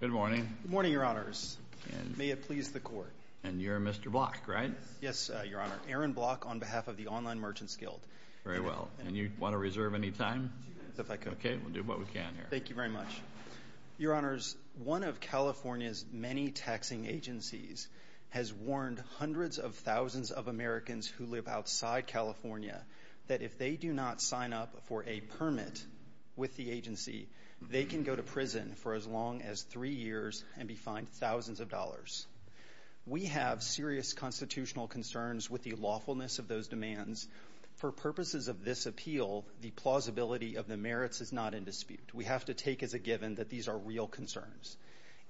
Good morning. Good morning, Your Honors. May it please the Court. And you're Mr. Block, right? Yes, Your Honor. Aaron Block on behalf of the Online Merchants Guild. Very well. And you want to reserve any time? If I could. Okay. We'll do what we can here. Thank you very much. Your Honors, one of California's many taxing agencies has warned hundreds of thousands of Americans who live outside California that if they do not sign up for a permit with the agency, they can go to prison for as long as three years and be fined thousands of dollars. We have serious constitutional concerns with the lawfulness of those demands. For purposes of this appeal, the plausibility of the merits is not in dispute. We have to take as a given that these are real concerns.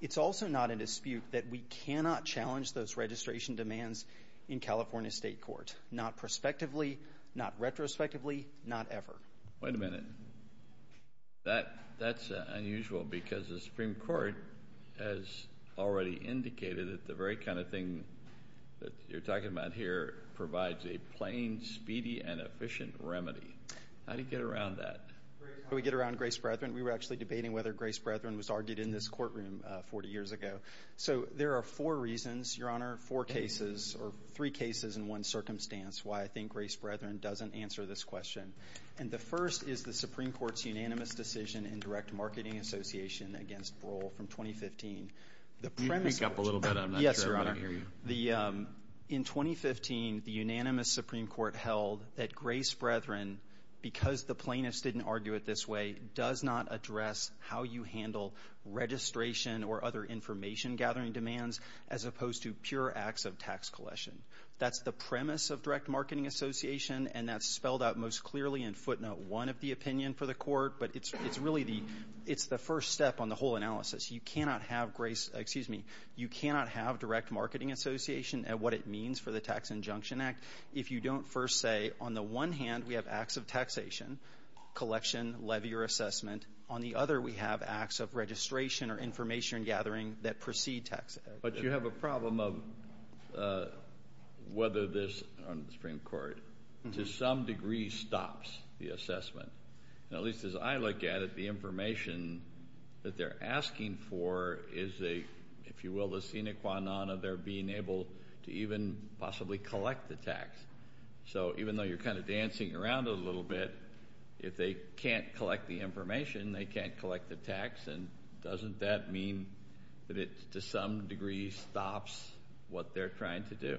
It's also not in dispute that we cannot challenge those registration demands in California State Court, not prospectively, not retrospectively, not ever. Wait a minute. That's unusual because the Supreme Court has already indicated that the very kind of thing that you're talking about here provides a plain, speedy, and efficient remedy. How do you get around that? How do we get around Grace Brethren? We were actually debating whether Grace Brethren was argued in this courtroom 40 years ago. So there are four reasons, Your Honor, four cases or three cases in one circumstance why I think Grace Brethren doesn't answer this question. And the first is the Supreme Court's unanimous decision in direct marketing association against Broll from 2015. Can you speak up a little bit? I'm not sure I'm going to hear you. In 2015, the unanimous Supreme Court held that Grace Brethren, because the plaintiffs didn't argue it this way, does not address how you handle registration or other information-gathering demands as opposed to pure acts of tax collection. That's the premise of direct marketing association, and that's spelled out most clearly in footnote 1 of the opinion for the Court. But it's really the – it's the first step on the whole analysis. You cannot have Grace – excuse me. You cannot have direct marketing association at what it means for the Tax Injunction Act if you don't first say, on the one hand, we have acts of taxation, collection, levy, or assessment. On the other, we have acts of registration or information-gathering that precede tax. But you have a problem of whether this on the Supreme Court to some degree stops the assessment. At least as I look at it, the information that they're asking for is a, if you will, the sine qua non of their being able to even possibly collect the tax. So even though you're kind of dancing around it a little bit, if they can't collect the information, they can't collect the tax. And doesn't that mean that it to some degree stops what they're trying to do?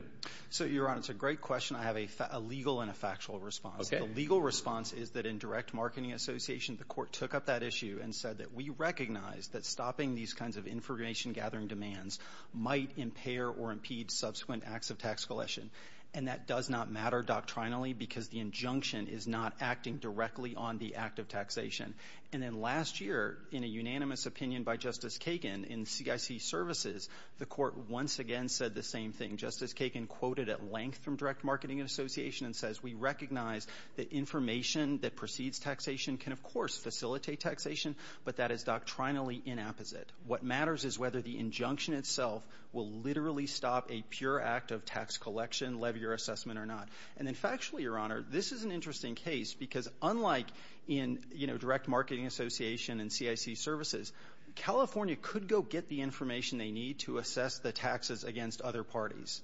So, Your Honor, it's a great question. I have a legal and a factual response. Okay. The legal response is that in direct marketing association, the court took up that issue and said that we recognize that stopping these kinds of information-gathering demands might impair or impede subsequent acts of tax collection. And that does not matter doctrinally because the injunction is not acting directly on the act of taxation. And then last year, in a unanimous opinion by Justice Kagan in CIC Services, the court once again said the same thing. Justice Kagan quoted at length from direct marketing association and says we recognize that information that precedes taxation can, of course, facilitate taxation, but that is doctrinally inapposite. What matters is whether the injunction itself will literally stop a pure act of tax collection, levier assessment or not. And then factually, Your Honor, this is an interesting case because unlike in, you know, direct marketing association and CIC Services, California could go get the information they need to assess the taxes against other parties.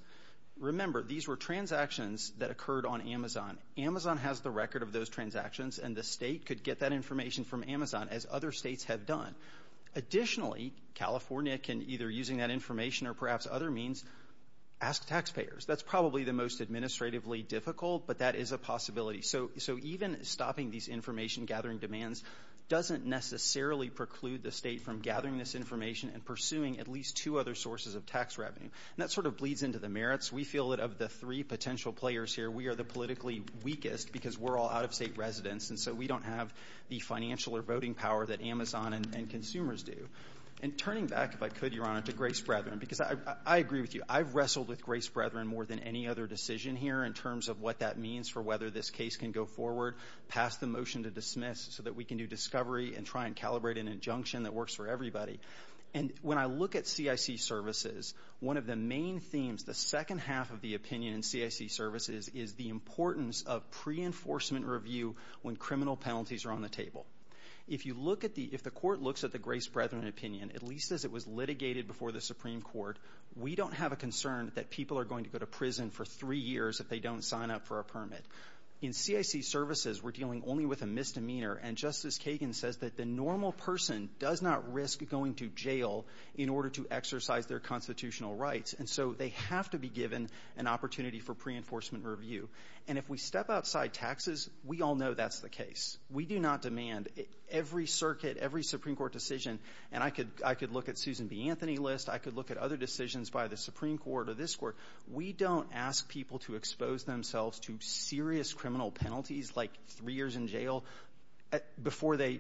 Remember, these were transactions that occurred on Amazon. Amazon has the record of those transactions, and the state could get that information from Amazon, as other states have done. Additionally, California can, either using that information or perhaps other means, ask taxpayers. That's probably the most administratively difficult, but that is a possibility. So even stopping these information-gathering demands doesn't necessarily preclude the state from gathering this information and pursuing at least two other sources of tax revenue. And that sort of bleeds into the merits. We feel that of the three potential players here, we are the politically weakest because we're all out-of-state residents, and so we don't have the financial or voting power that Amazon and consumers do. And turning back, if I could, Your Honor, to Grace Brethren, because I agree with you. I've wrestled with Grace Brethren more than any other decision here in terms of what that means for whether this case can go forward, pass the motion to dismiss so that we can do discovery and try and calibrate an injunction that works for everybody. And when I look at CIC Services, one of the main themes, the second half of the opinion in CIC Services, is the importance of pre-enforcement review when criminal penalties are on the table. If you look at the – if the court looks at the Grace Brethren opinion, at least as it was litigated before the Supreme Court, we don't have a concern that people are going to go to prison for three years if they don't sign up for a permit. In CIC Services, we're dealing only with a misdemeanor. And Justice Kagan says that the normal person does not risk going to jail in order to exercise their constitutional rights. And so they have to be given an opportunity for pre-enforcement review. And if we step outside taxes, we all know that's the case. We do not demand every circuit, every Supreme Court decision – and I could look at Susan B. Anthony's list. I could look at other decisions by the Supreme Court or this Court. We don't ask people to expose themselves to serious criminal penalties, like three years in jail, before they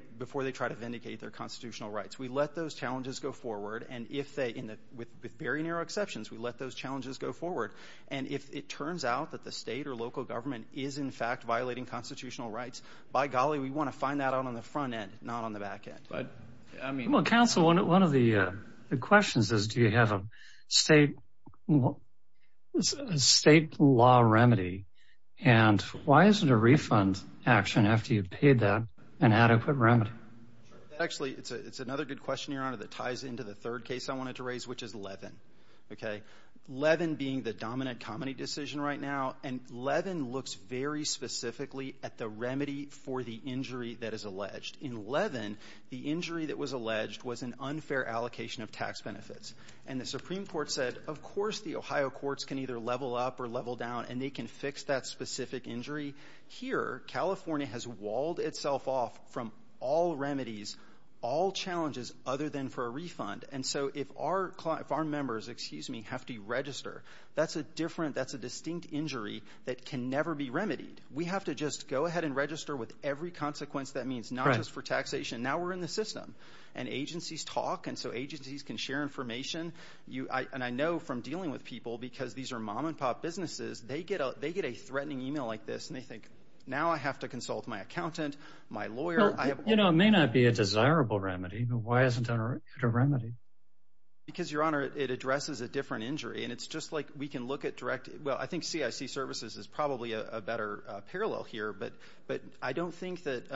try to vindicate their constitutional rights. We let those challenges go forward. And if they – with very narrow exceptions, we let those challenges go forward. And if it turns out that the State or local government is, in fact, violating constitutional rights, by golly, we want to find that out on the front end, not on the back end. Well, Counsel, one of the questions is, do you have a state law remedy? And why isn't a refund action, after you've paid that, an adequate remedy? Actually, it's another good question, Your Honor, that ties into the third case I wanted to raise, which is Levin. Levin being the dominant comedy decision right now. And Levin looks very specifically at the remedy for the injury that is alleged. In Levin, the injury that was alleged was an unfair allocation of tax benefits. And the Supreme Court said, of course the Ohio courts can either level up or level down, and they can fix that specific injury. Here, California has walled itself off from all remedies, all challenges, other than for a refund. And so if our members, excuse me, have to register, that's a different – that's a distinct injury that can never be remedied. We have to just go ahead and register with every consequence that means, not just for taxation. Now we're in the system. And agencies talk, and so agencies can share information. And I know from dealing with people, because these are mom-and-pop businesses, they get a threatening email like this, and they think, now I have to consult my accountant, my lawyer. You know, it may not be a desirable remedy, but why isn't there a remedy? Because, Your Honor, it addresses a different injury. And it's just like we can look at direct – well, I think CIC services is probably a better parallel here, but I don't think that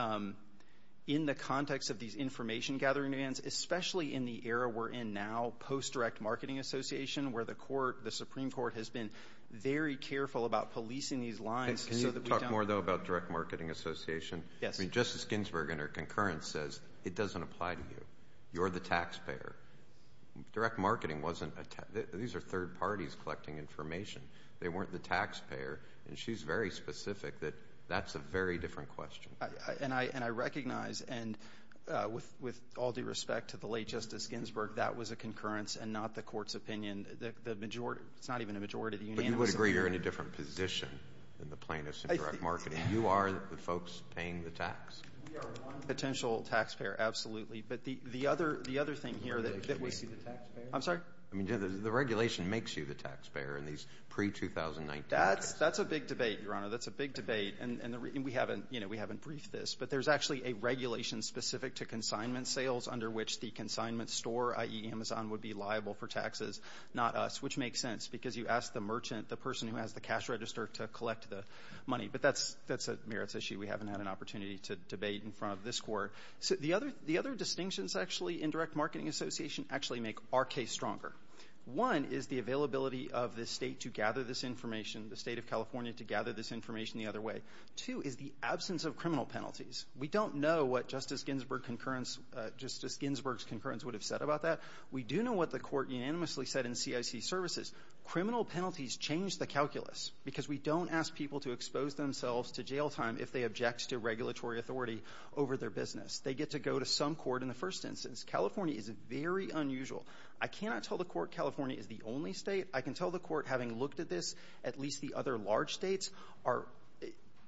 in the context of these information-gathering demands, especially in the era we're in now, post-direct marketing association, where the Supreme Court has been very careful about policing these lines so that we don't – Can you talk more, though, about direct marketing association? Yes. I mean, Justice Ginsburg, in her concurrence, says it doesn't apply to you. You're the taxpayer. Direct marketing wasn't – these are third parties collecting information. They weren't the taxpayer. And she's very specific that that's a very different question. And I recognize, and with all due respect to the late Justice Ginsburg, that was a concurrence and not the Court's opinion. The majority – it's not even a majority. But you would agree you're in a different position than the plaintiffs in direct marketing. You are the folks paying the tax. We are one potential taxpayer, absolutely. But the other thing here that we see – The regulation makes you the taxpayer? I'm sorry? I mean, the regulation makes you the taxpayer in these pre-2019 – That's a big debate, Your Honor. That's a big debate. And we haven't – you know, we haven't briefed this. But there's actually a regulation specific to consignment sales under which the consignment store, i.e., Amazon, would be liable for taxes, not us, which makes sense because you ask the merchant, the person who has the cash register, to collect the money. But that's a merits issue. We haven't had an opportunity to debate in front of this Court. So the other – the other distinctions, actually, in direct marketing association actually make our case stronger. One is the availability of the State to gather this information, the State of California to gather this information the other way. Two is the absence of criminal penalties. We don't know what Justice Ginsburg's concurrence would have said about that. We do know what the Court unanimously said in CIC services. Criminal penalties change the calculus because we don't ask people to expose themselves to jail time if they object to regulatory authority over their business. They get to go to some court in the first instance. California is very unusual. I cannot tell the Court California is the only State. I can tell the Court, having looked at this, at least the other large States are –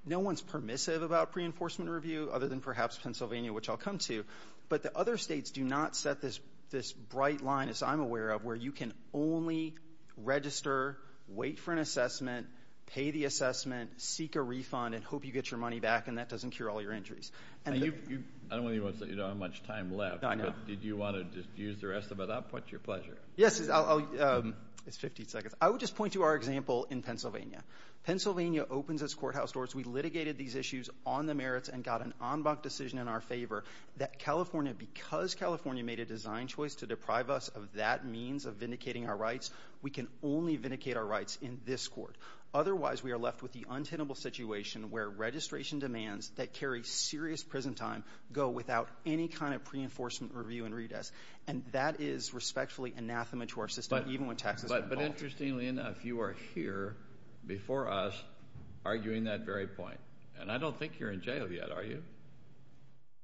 no one's permissive about preenforcement review other than perhaps Pennsylvania, which I'll come to. But the other States do not set this – this bright line, as I'm aware of, where you can only register, wait for an assessment, pay the assessment, seek a refund, and hope you get your money back, and that doesn't cure all your injuries. I don't want to say you don't have much time left. I know. But did you want to just use the rest of it up? What's your pleasure? Yes, I'll – it's 15 seconds. I would just point to our example in Pennsylvania. Pennsylvania opens its courthouse doors. We litigated these issues on the merits and got an en banc decision in our favor that California, because California made a design choice to deprive us of that means of vindicating our rights, we can only vindicate our rights in this court. Otherwise, we are left with the untenable situation where registration demands that carry serious prison time go without any kind of preenforcement review and redress. And that is respectfully anathema to our system, even when taxes are involved. But interestingly enough, you are here before us arguing that very point. And I don't think you're in jail yet, are you?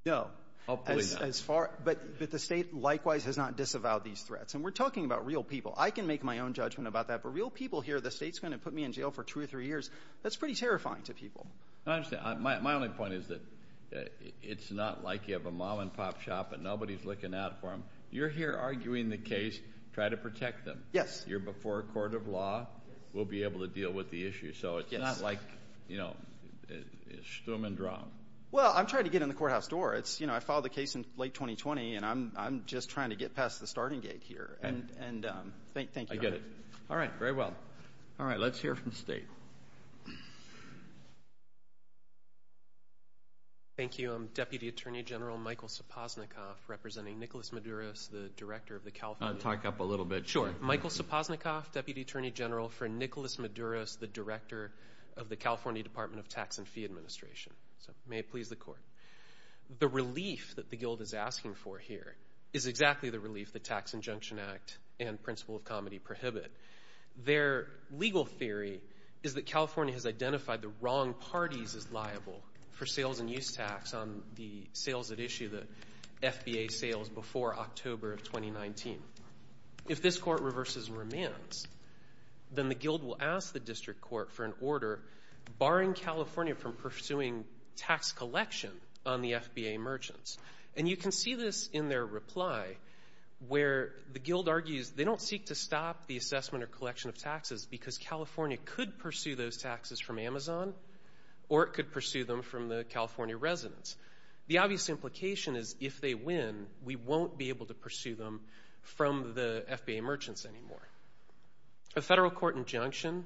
No. Hopefully not. As far – but the State likewise has not disavowed these threats. And we're talking about real people. I can make my own judgment about that. But for real people here, the State's going to put me in jail for two or three years. That's pretty terrifying to people. I understand. My only point is that it's not like you have a mom-and-pop shop and nobody's looking out for them. You're here arguing the case. Try to protect them. Yes. You're before a court of law. Yes. We'll be able to deal with the issue. So it's not like, you know, schtum and drum. Well, I'm trying to get in the courthouse door. It's – you know, I filed the case in late 2020, and I'm just trying to get past the starting gate here. And thank you. I get it. All right. Very well. All right. Let's hear from the State. Thank you. I'm Deputy Attorney General Michael Sopoznikoff, representing Nicholas Madouras, the Director of the California – Talk up a little bit. Sure. Michael Sopoznikoff, Deputy Attorney General for Nicholas Madouras, the Director of the California Department of Tax and Fee Administration. So may it please the Court. The relief that the Guild is asking for here is exactly the relief the Tax Injunction Act and Principle of Comedy prohibit. Their legal theory is that California has identified the wrong parties as liable for sales and use tax on the sales that issue the FBA sales before October of 2019. If this Court reverses and remands, then the Guild will ask the District Court for an order barring California from pursuing tax collection on the FBA merchants. And you can see this in their reply where the Guild argues they don't seek to stop the assessment or collection of taxes because California could pursue those taxes from Amazon or it could pursue them from the California residents. The obvious implication is if they win, we won't be able to pursue them from the FBA merchants anymore. A federal court injunction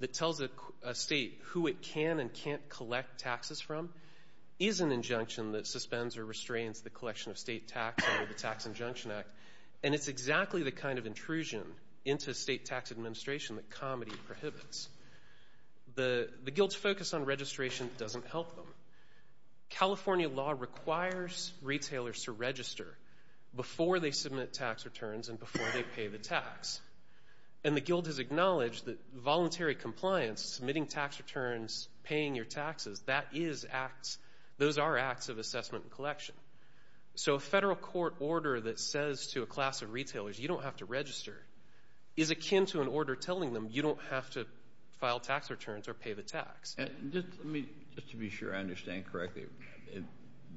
that tells a state who it can and can't collect taxes from is an injunction that suspends or restrains the collection of state tax under the Tax Injunction Act, and it's exactly the kind of intrusion into state tax administration that comedy prohibits. The Guild's focus on registration doesn't help them. California law requires retailers to register before they submit tax returns and before they pay the tax. And the Guild has acknowledged that voluntary compliance, submitting tax returns, paying your taxes, those are acts of assessment and collection. So a federal court order that says to a class of retailers, you don't have to register, is akin to an order telling them you don't have to file tax returns or pay the tax. Just to be sure I understand correctly,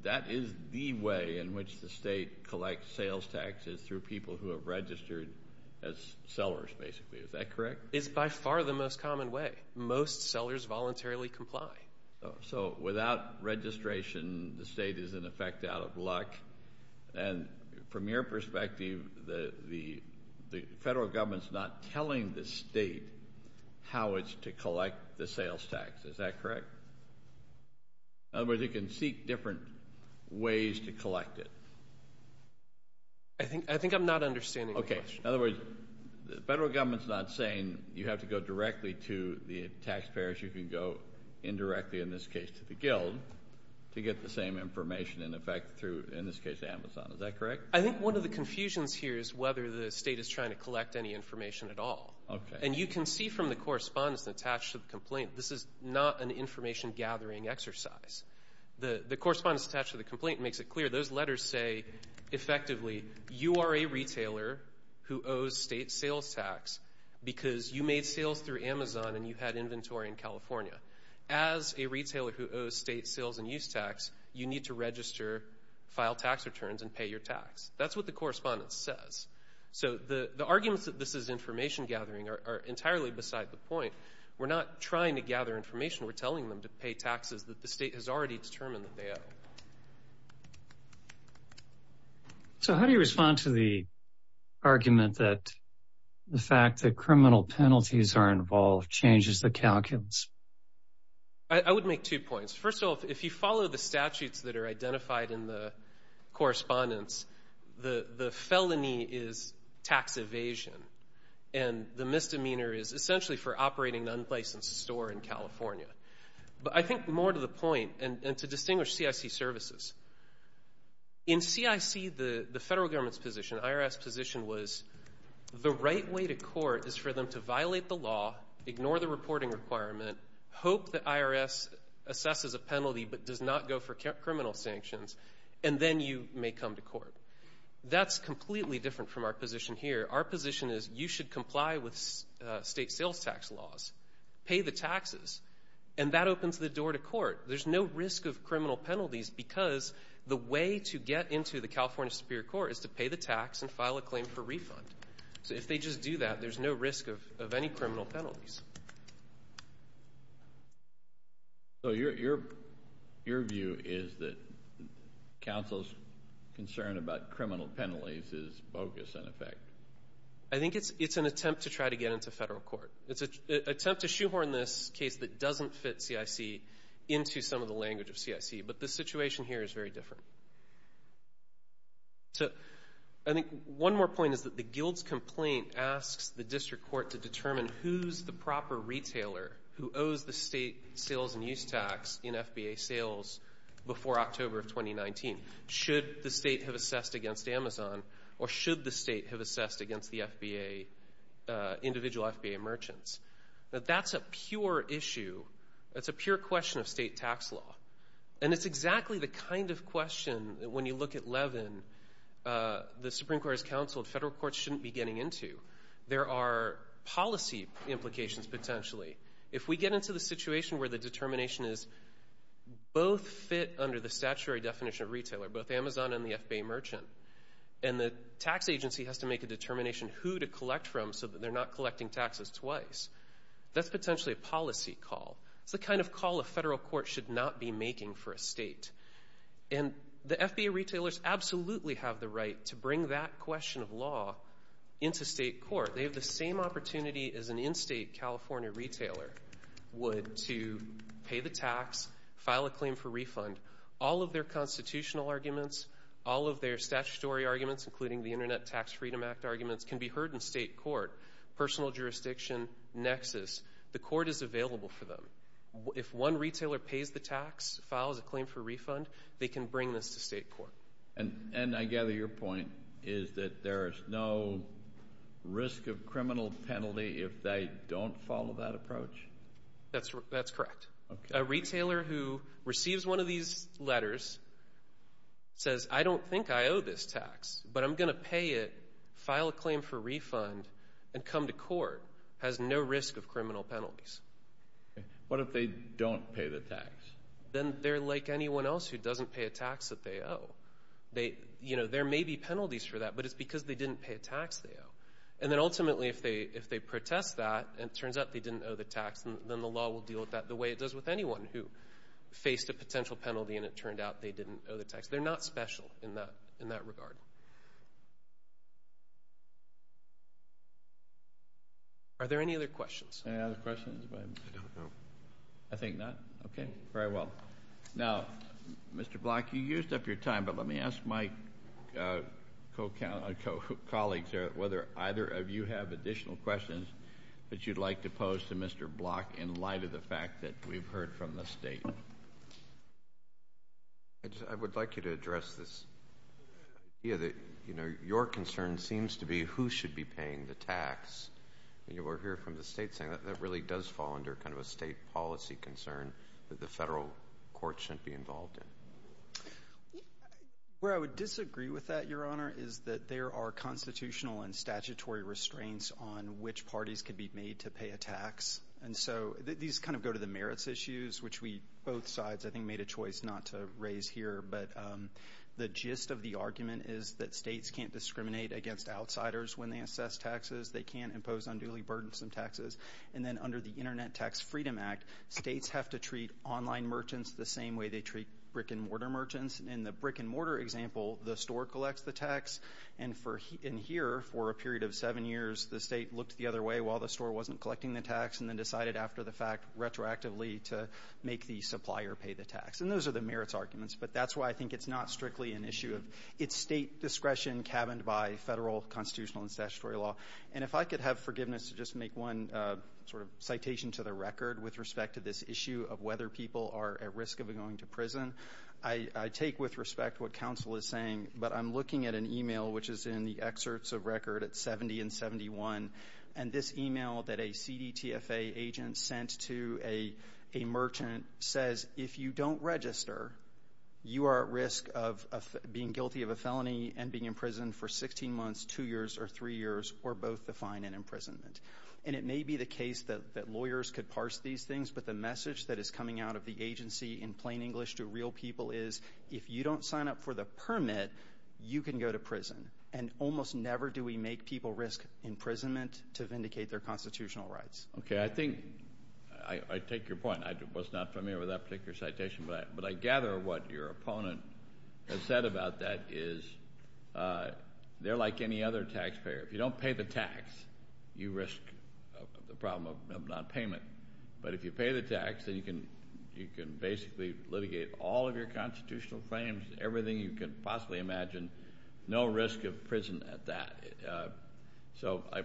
that is the way in which the state collects sales taxes through people who have registered as sellers, basically. Is that correct? It's by far the most common way. Most sellers voluntarily comply. So without registration, the state is, in effect, out of luck. And from your perspective, the federal government's not telling the state how it's to collect the sales tax. Is that correct? In other words, it can seek different ways to collect it. I think I'm not understanding the question. In other words, the federal government's not saying you have to go directly to the taxpayers. You can go indirectly, in this case to the Guild, to get the same information in effect through, in this case, Amazon. Is that correct? I think one of the confusions here is whether the state is trying to collect any information at all. And you can see from the correspondence attached to the complaint, this is not an information-gathering exercise. The correspondence attached to the complaint makes it clear. Those letters say, effectively, you are a retailer who owes state sales tax because you made sales through Amazon and you had inventory in California. As a retailer who owes state sales and use tax, you need to register, file tax returns, and pay your tax. That's what the correspondence says. So the arguments that this is information-gathering are entirely beside the point. We're not trying to gather information. We're telling them to pay taxes that the state has already determined that they owe. So how do you respond to the argument that the fact that criminal penalties are involved changes the calculus? I would make two points. First off, if you follow the statutes that are identified in the correspondence, the felony is tax evasion, and the misdemeanor is essentially for operating an unlicensed store in California. But I think more to the point and to distinguish CIC services, in CIC, the federal government's position, IRS position, was the right way to court is for them to violate the law, ignore the reporting requirement, hope that IRS assesses a penalty but does not go for criminal sanctions, and then you may come to court. That's completely different from our position here. Our position is you should comply with state sales tax laws, pay the taxes, and that opens the door to court. There's no risk of criminal penalties because the way to get into the California Superior Court is to pay the tax and file a claim for refund. So if they just do that, there's no risk of any criminal penalties. So your view is that counsel's concern about criminal penalties is bogus in effect? I think it's an attempt to try to get into federal court. It's an attempt to shoehorn this case that doesn't fit CIC into some of the language of CIC. But the situation here is very different. I think one more point is that the guild's complaint asks the district court to determine who's the proper retailer who owes the state sales and use tax in FBA sales before October of 2019. Should the state have assessed against Amazon or should the state have assessed against the individual FBA merchants? That's a pure issue. That's a pure question of state tax law. And it's exactly the kind of question that when you look at Levin, the Supreme Court has counseled federal courts shouldn't be getting into. There are policy implications potentially. If we get into the situation where the determination is both fit under the statutory definition of retailer, both Amazon and the FBA merchant, and the tax agency has to make a determination who to collect from so that they're not collecting taxes twice, that's potentially a policy call. It's the kind of call a federal court should not be making for a state. And the FBA retailers absolutely have the right to bring that question of law into state court. They have the same opportunity as an in-state California retailer would to pay the tax, file a claim for refund. All of their constitutional arguments, all of their statutory arguments, including the Internet Tax Freedom Act arguments, can be heard in state court, personal jurisdiction, nexus. The court is available for them. If one retailer pays the tax, files a claim for refund, they can bring this to state court. And I gather your point is that there is no risk of criminal penalty if they don't follow that approach? That's correct. A retailer who receives one of these letters says, I don't think I owe this tax, but I'm going to pay it, file a claim for refund, and come to court has no risk of criminal penalties. What if they don't pay the tax? Then they're like anyone else who doesn't pay a tax that they owe. You know, there may be penalties for that, but it's because they didn't pay a tax they owe. And then ultimately if they protest that and it turns out they didn't owe the tax, then the law will deal with that the way it does with anyone who faced a potential penalty and it turned out they didn't owe the tax. They're not special in that regard. Are there any other questions? Any other questions? I don't know. I think not. Okay. Very well. Now, Mr. Block, you used up your time, but let me ask my colleagues here whether either of you have additional questions that you'd like to pose to Mr. Block in light of the fact that we've heard from the State. I would like you to address this idea that, you know, your concern seems to be who should be paying the tax. And you will hear from the State saying that that really does fall under kind of a State policy concern that the Federal court shouldn't be involved in. Where I would disagree with that, Your Honor, is that there are constitutional and statutory restraints on which parties can be made to pay a tax. And so these kind of go to the merits issues, which we both sides, I think, made a choice not to raise here. But the gist of the argument is that States can't discriminate against outsiders when they assess taxes. They can't impose unduly burdensome taxes. And then under the Internet Tax Freedom Act, States have to treat online merchants the same way they treat brick and mortar merchants. In the brick and mortar example, the store collects the tax. And here, for a period of seven years, the State looked the other way while the store wasn't collecting the tax and then decided after the fact retroactively to make the supplier pay the tax. And those are the merits arguments. But that's why I think it's not strictly an issue of State discretion cabined by Federal constitutional and statutory law. And if I could have forgiveness to just make one sort of citation to the record with respect to this issue of whether people are at risk of going to prison, I take with respect what counsel is saying, but I'm looking at an email which is in the excerpts of record at 70 and 71. And this email that a CDTFA agent sent to a merchant says, if you don't register, you are at risk of being guilty of a felony and being in prison for 16 months, two years, or three years, or both the fine and imprisonment. And it may be the case that lawyers could parse these things, but the message that is coming out of the agency in plain English to real people is, if you don't sign up for the permit, you can go to prison. And almost never do we make people risk imprisonment to vindicate their constitutional rights. Okay. I think I take your point. I was not familiar with that particular citation. But I gather what your opponent has said about that is they're like any other taxpayer. If you don't pay the tax, you risk the problem of nonpayment. But if you pay the tax, then you can basically litigate all of your constitutional claims, everything you can possibly imagine, no risk of prison at that.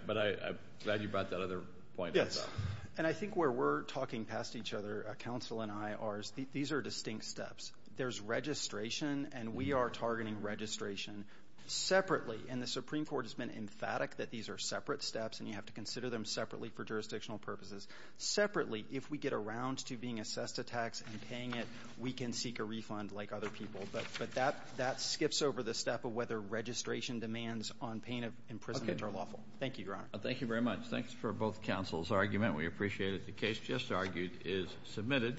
But I'm glad you brought that other point up. Yes. And I think where we're talking past each other, counsel and I, are these are distinct steps. There's registration, and we are targeting registration separately. And the Supreme Court has been emphatic that these are separate steps, and you have to consider them separately for jurisdictional purposes. Separately, if we get around to being assessed a tax and paying it, we can seek a refund like other people. But that skips over the step of whether registration demands on payment of imprisonment are lawful. Thank you, Your Honor. Thank you very much. Thanks for both counsel's argument. We appreciate it. The case just argued is submitted.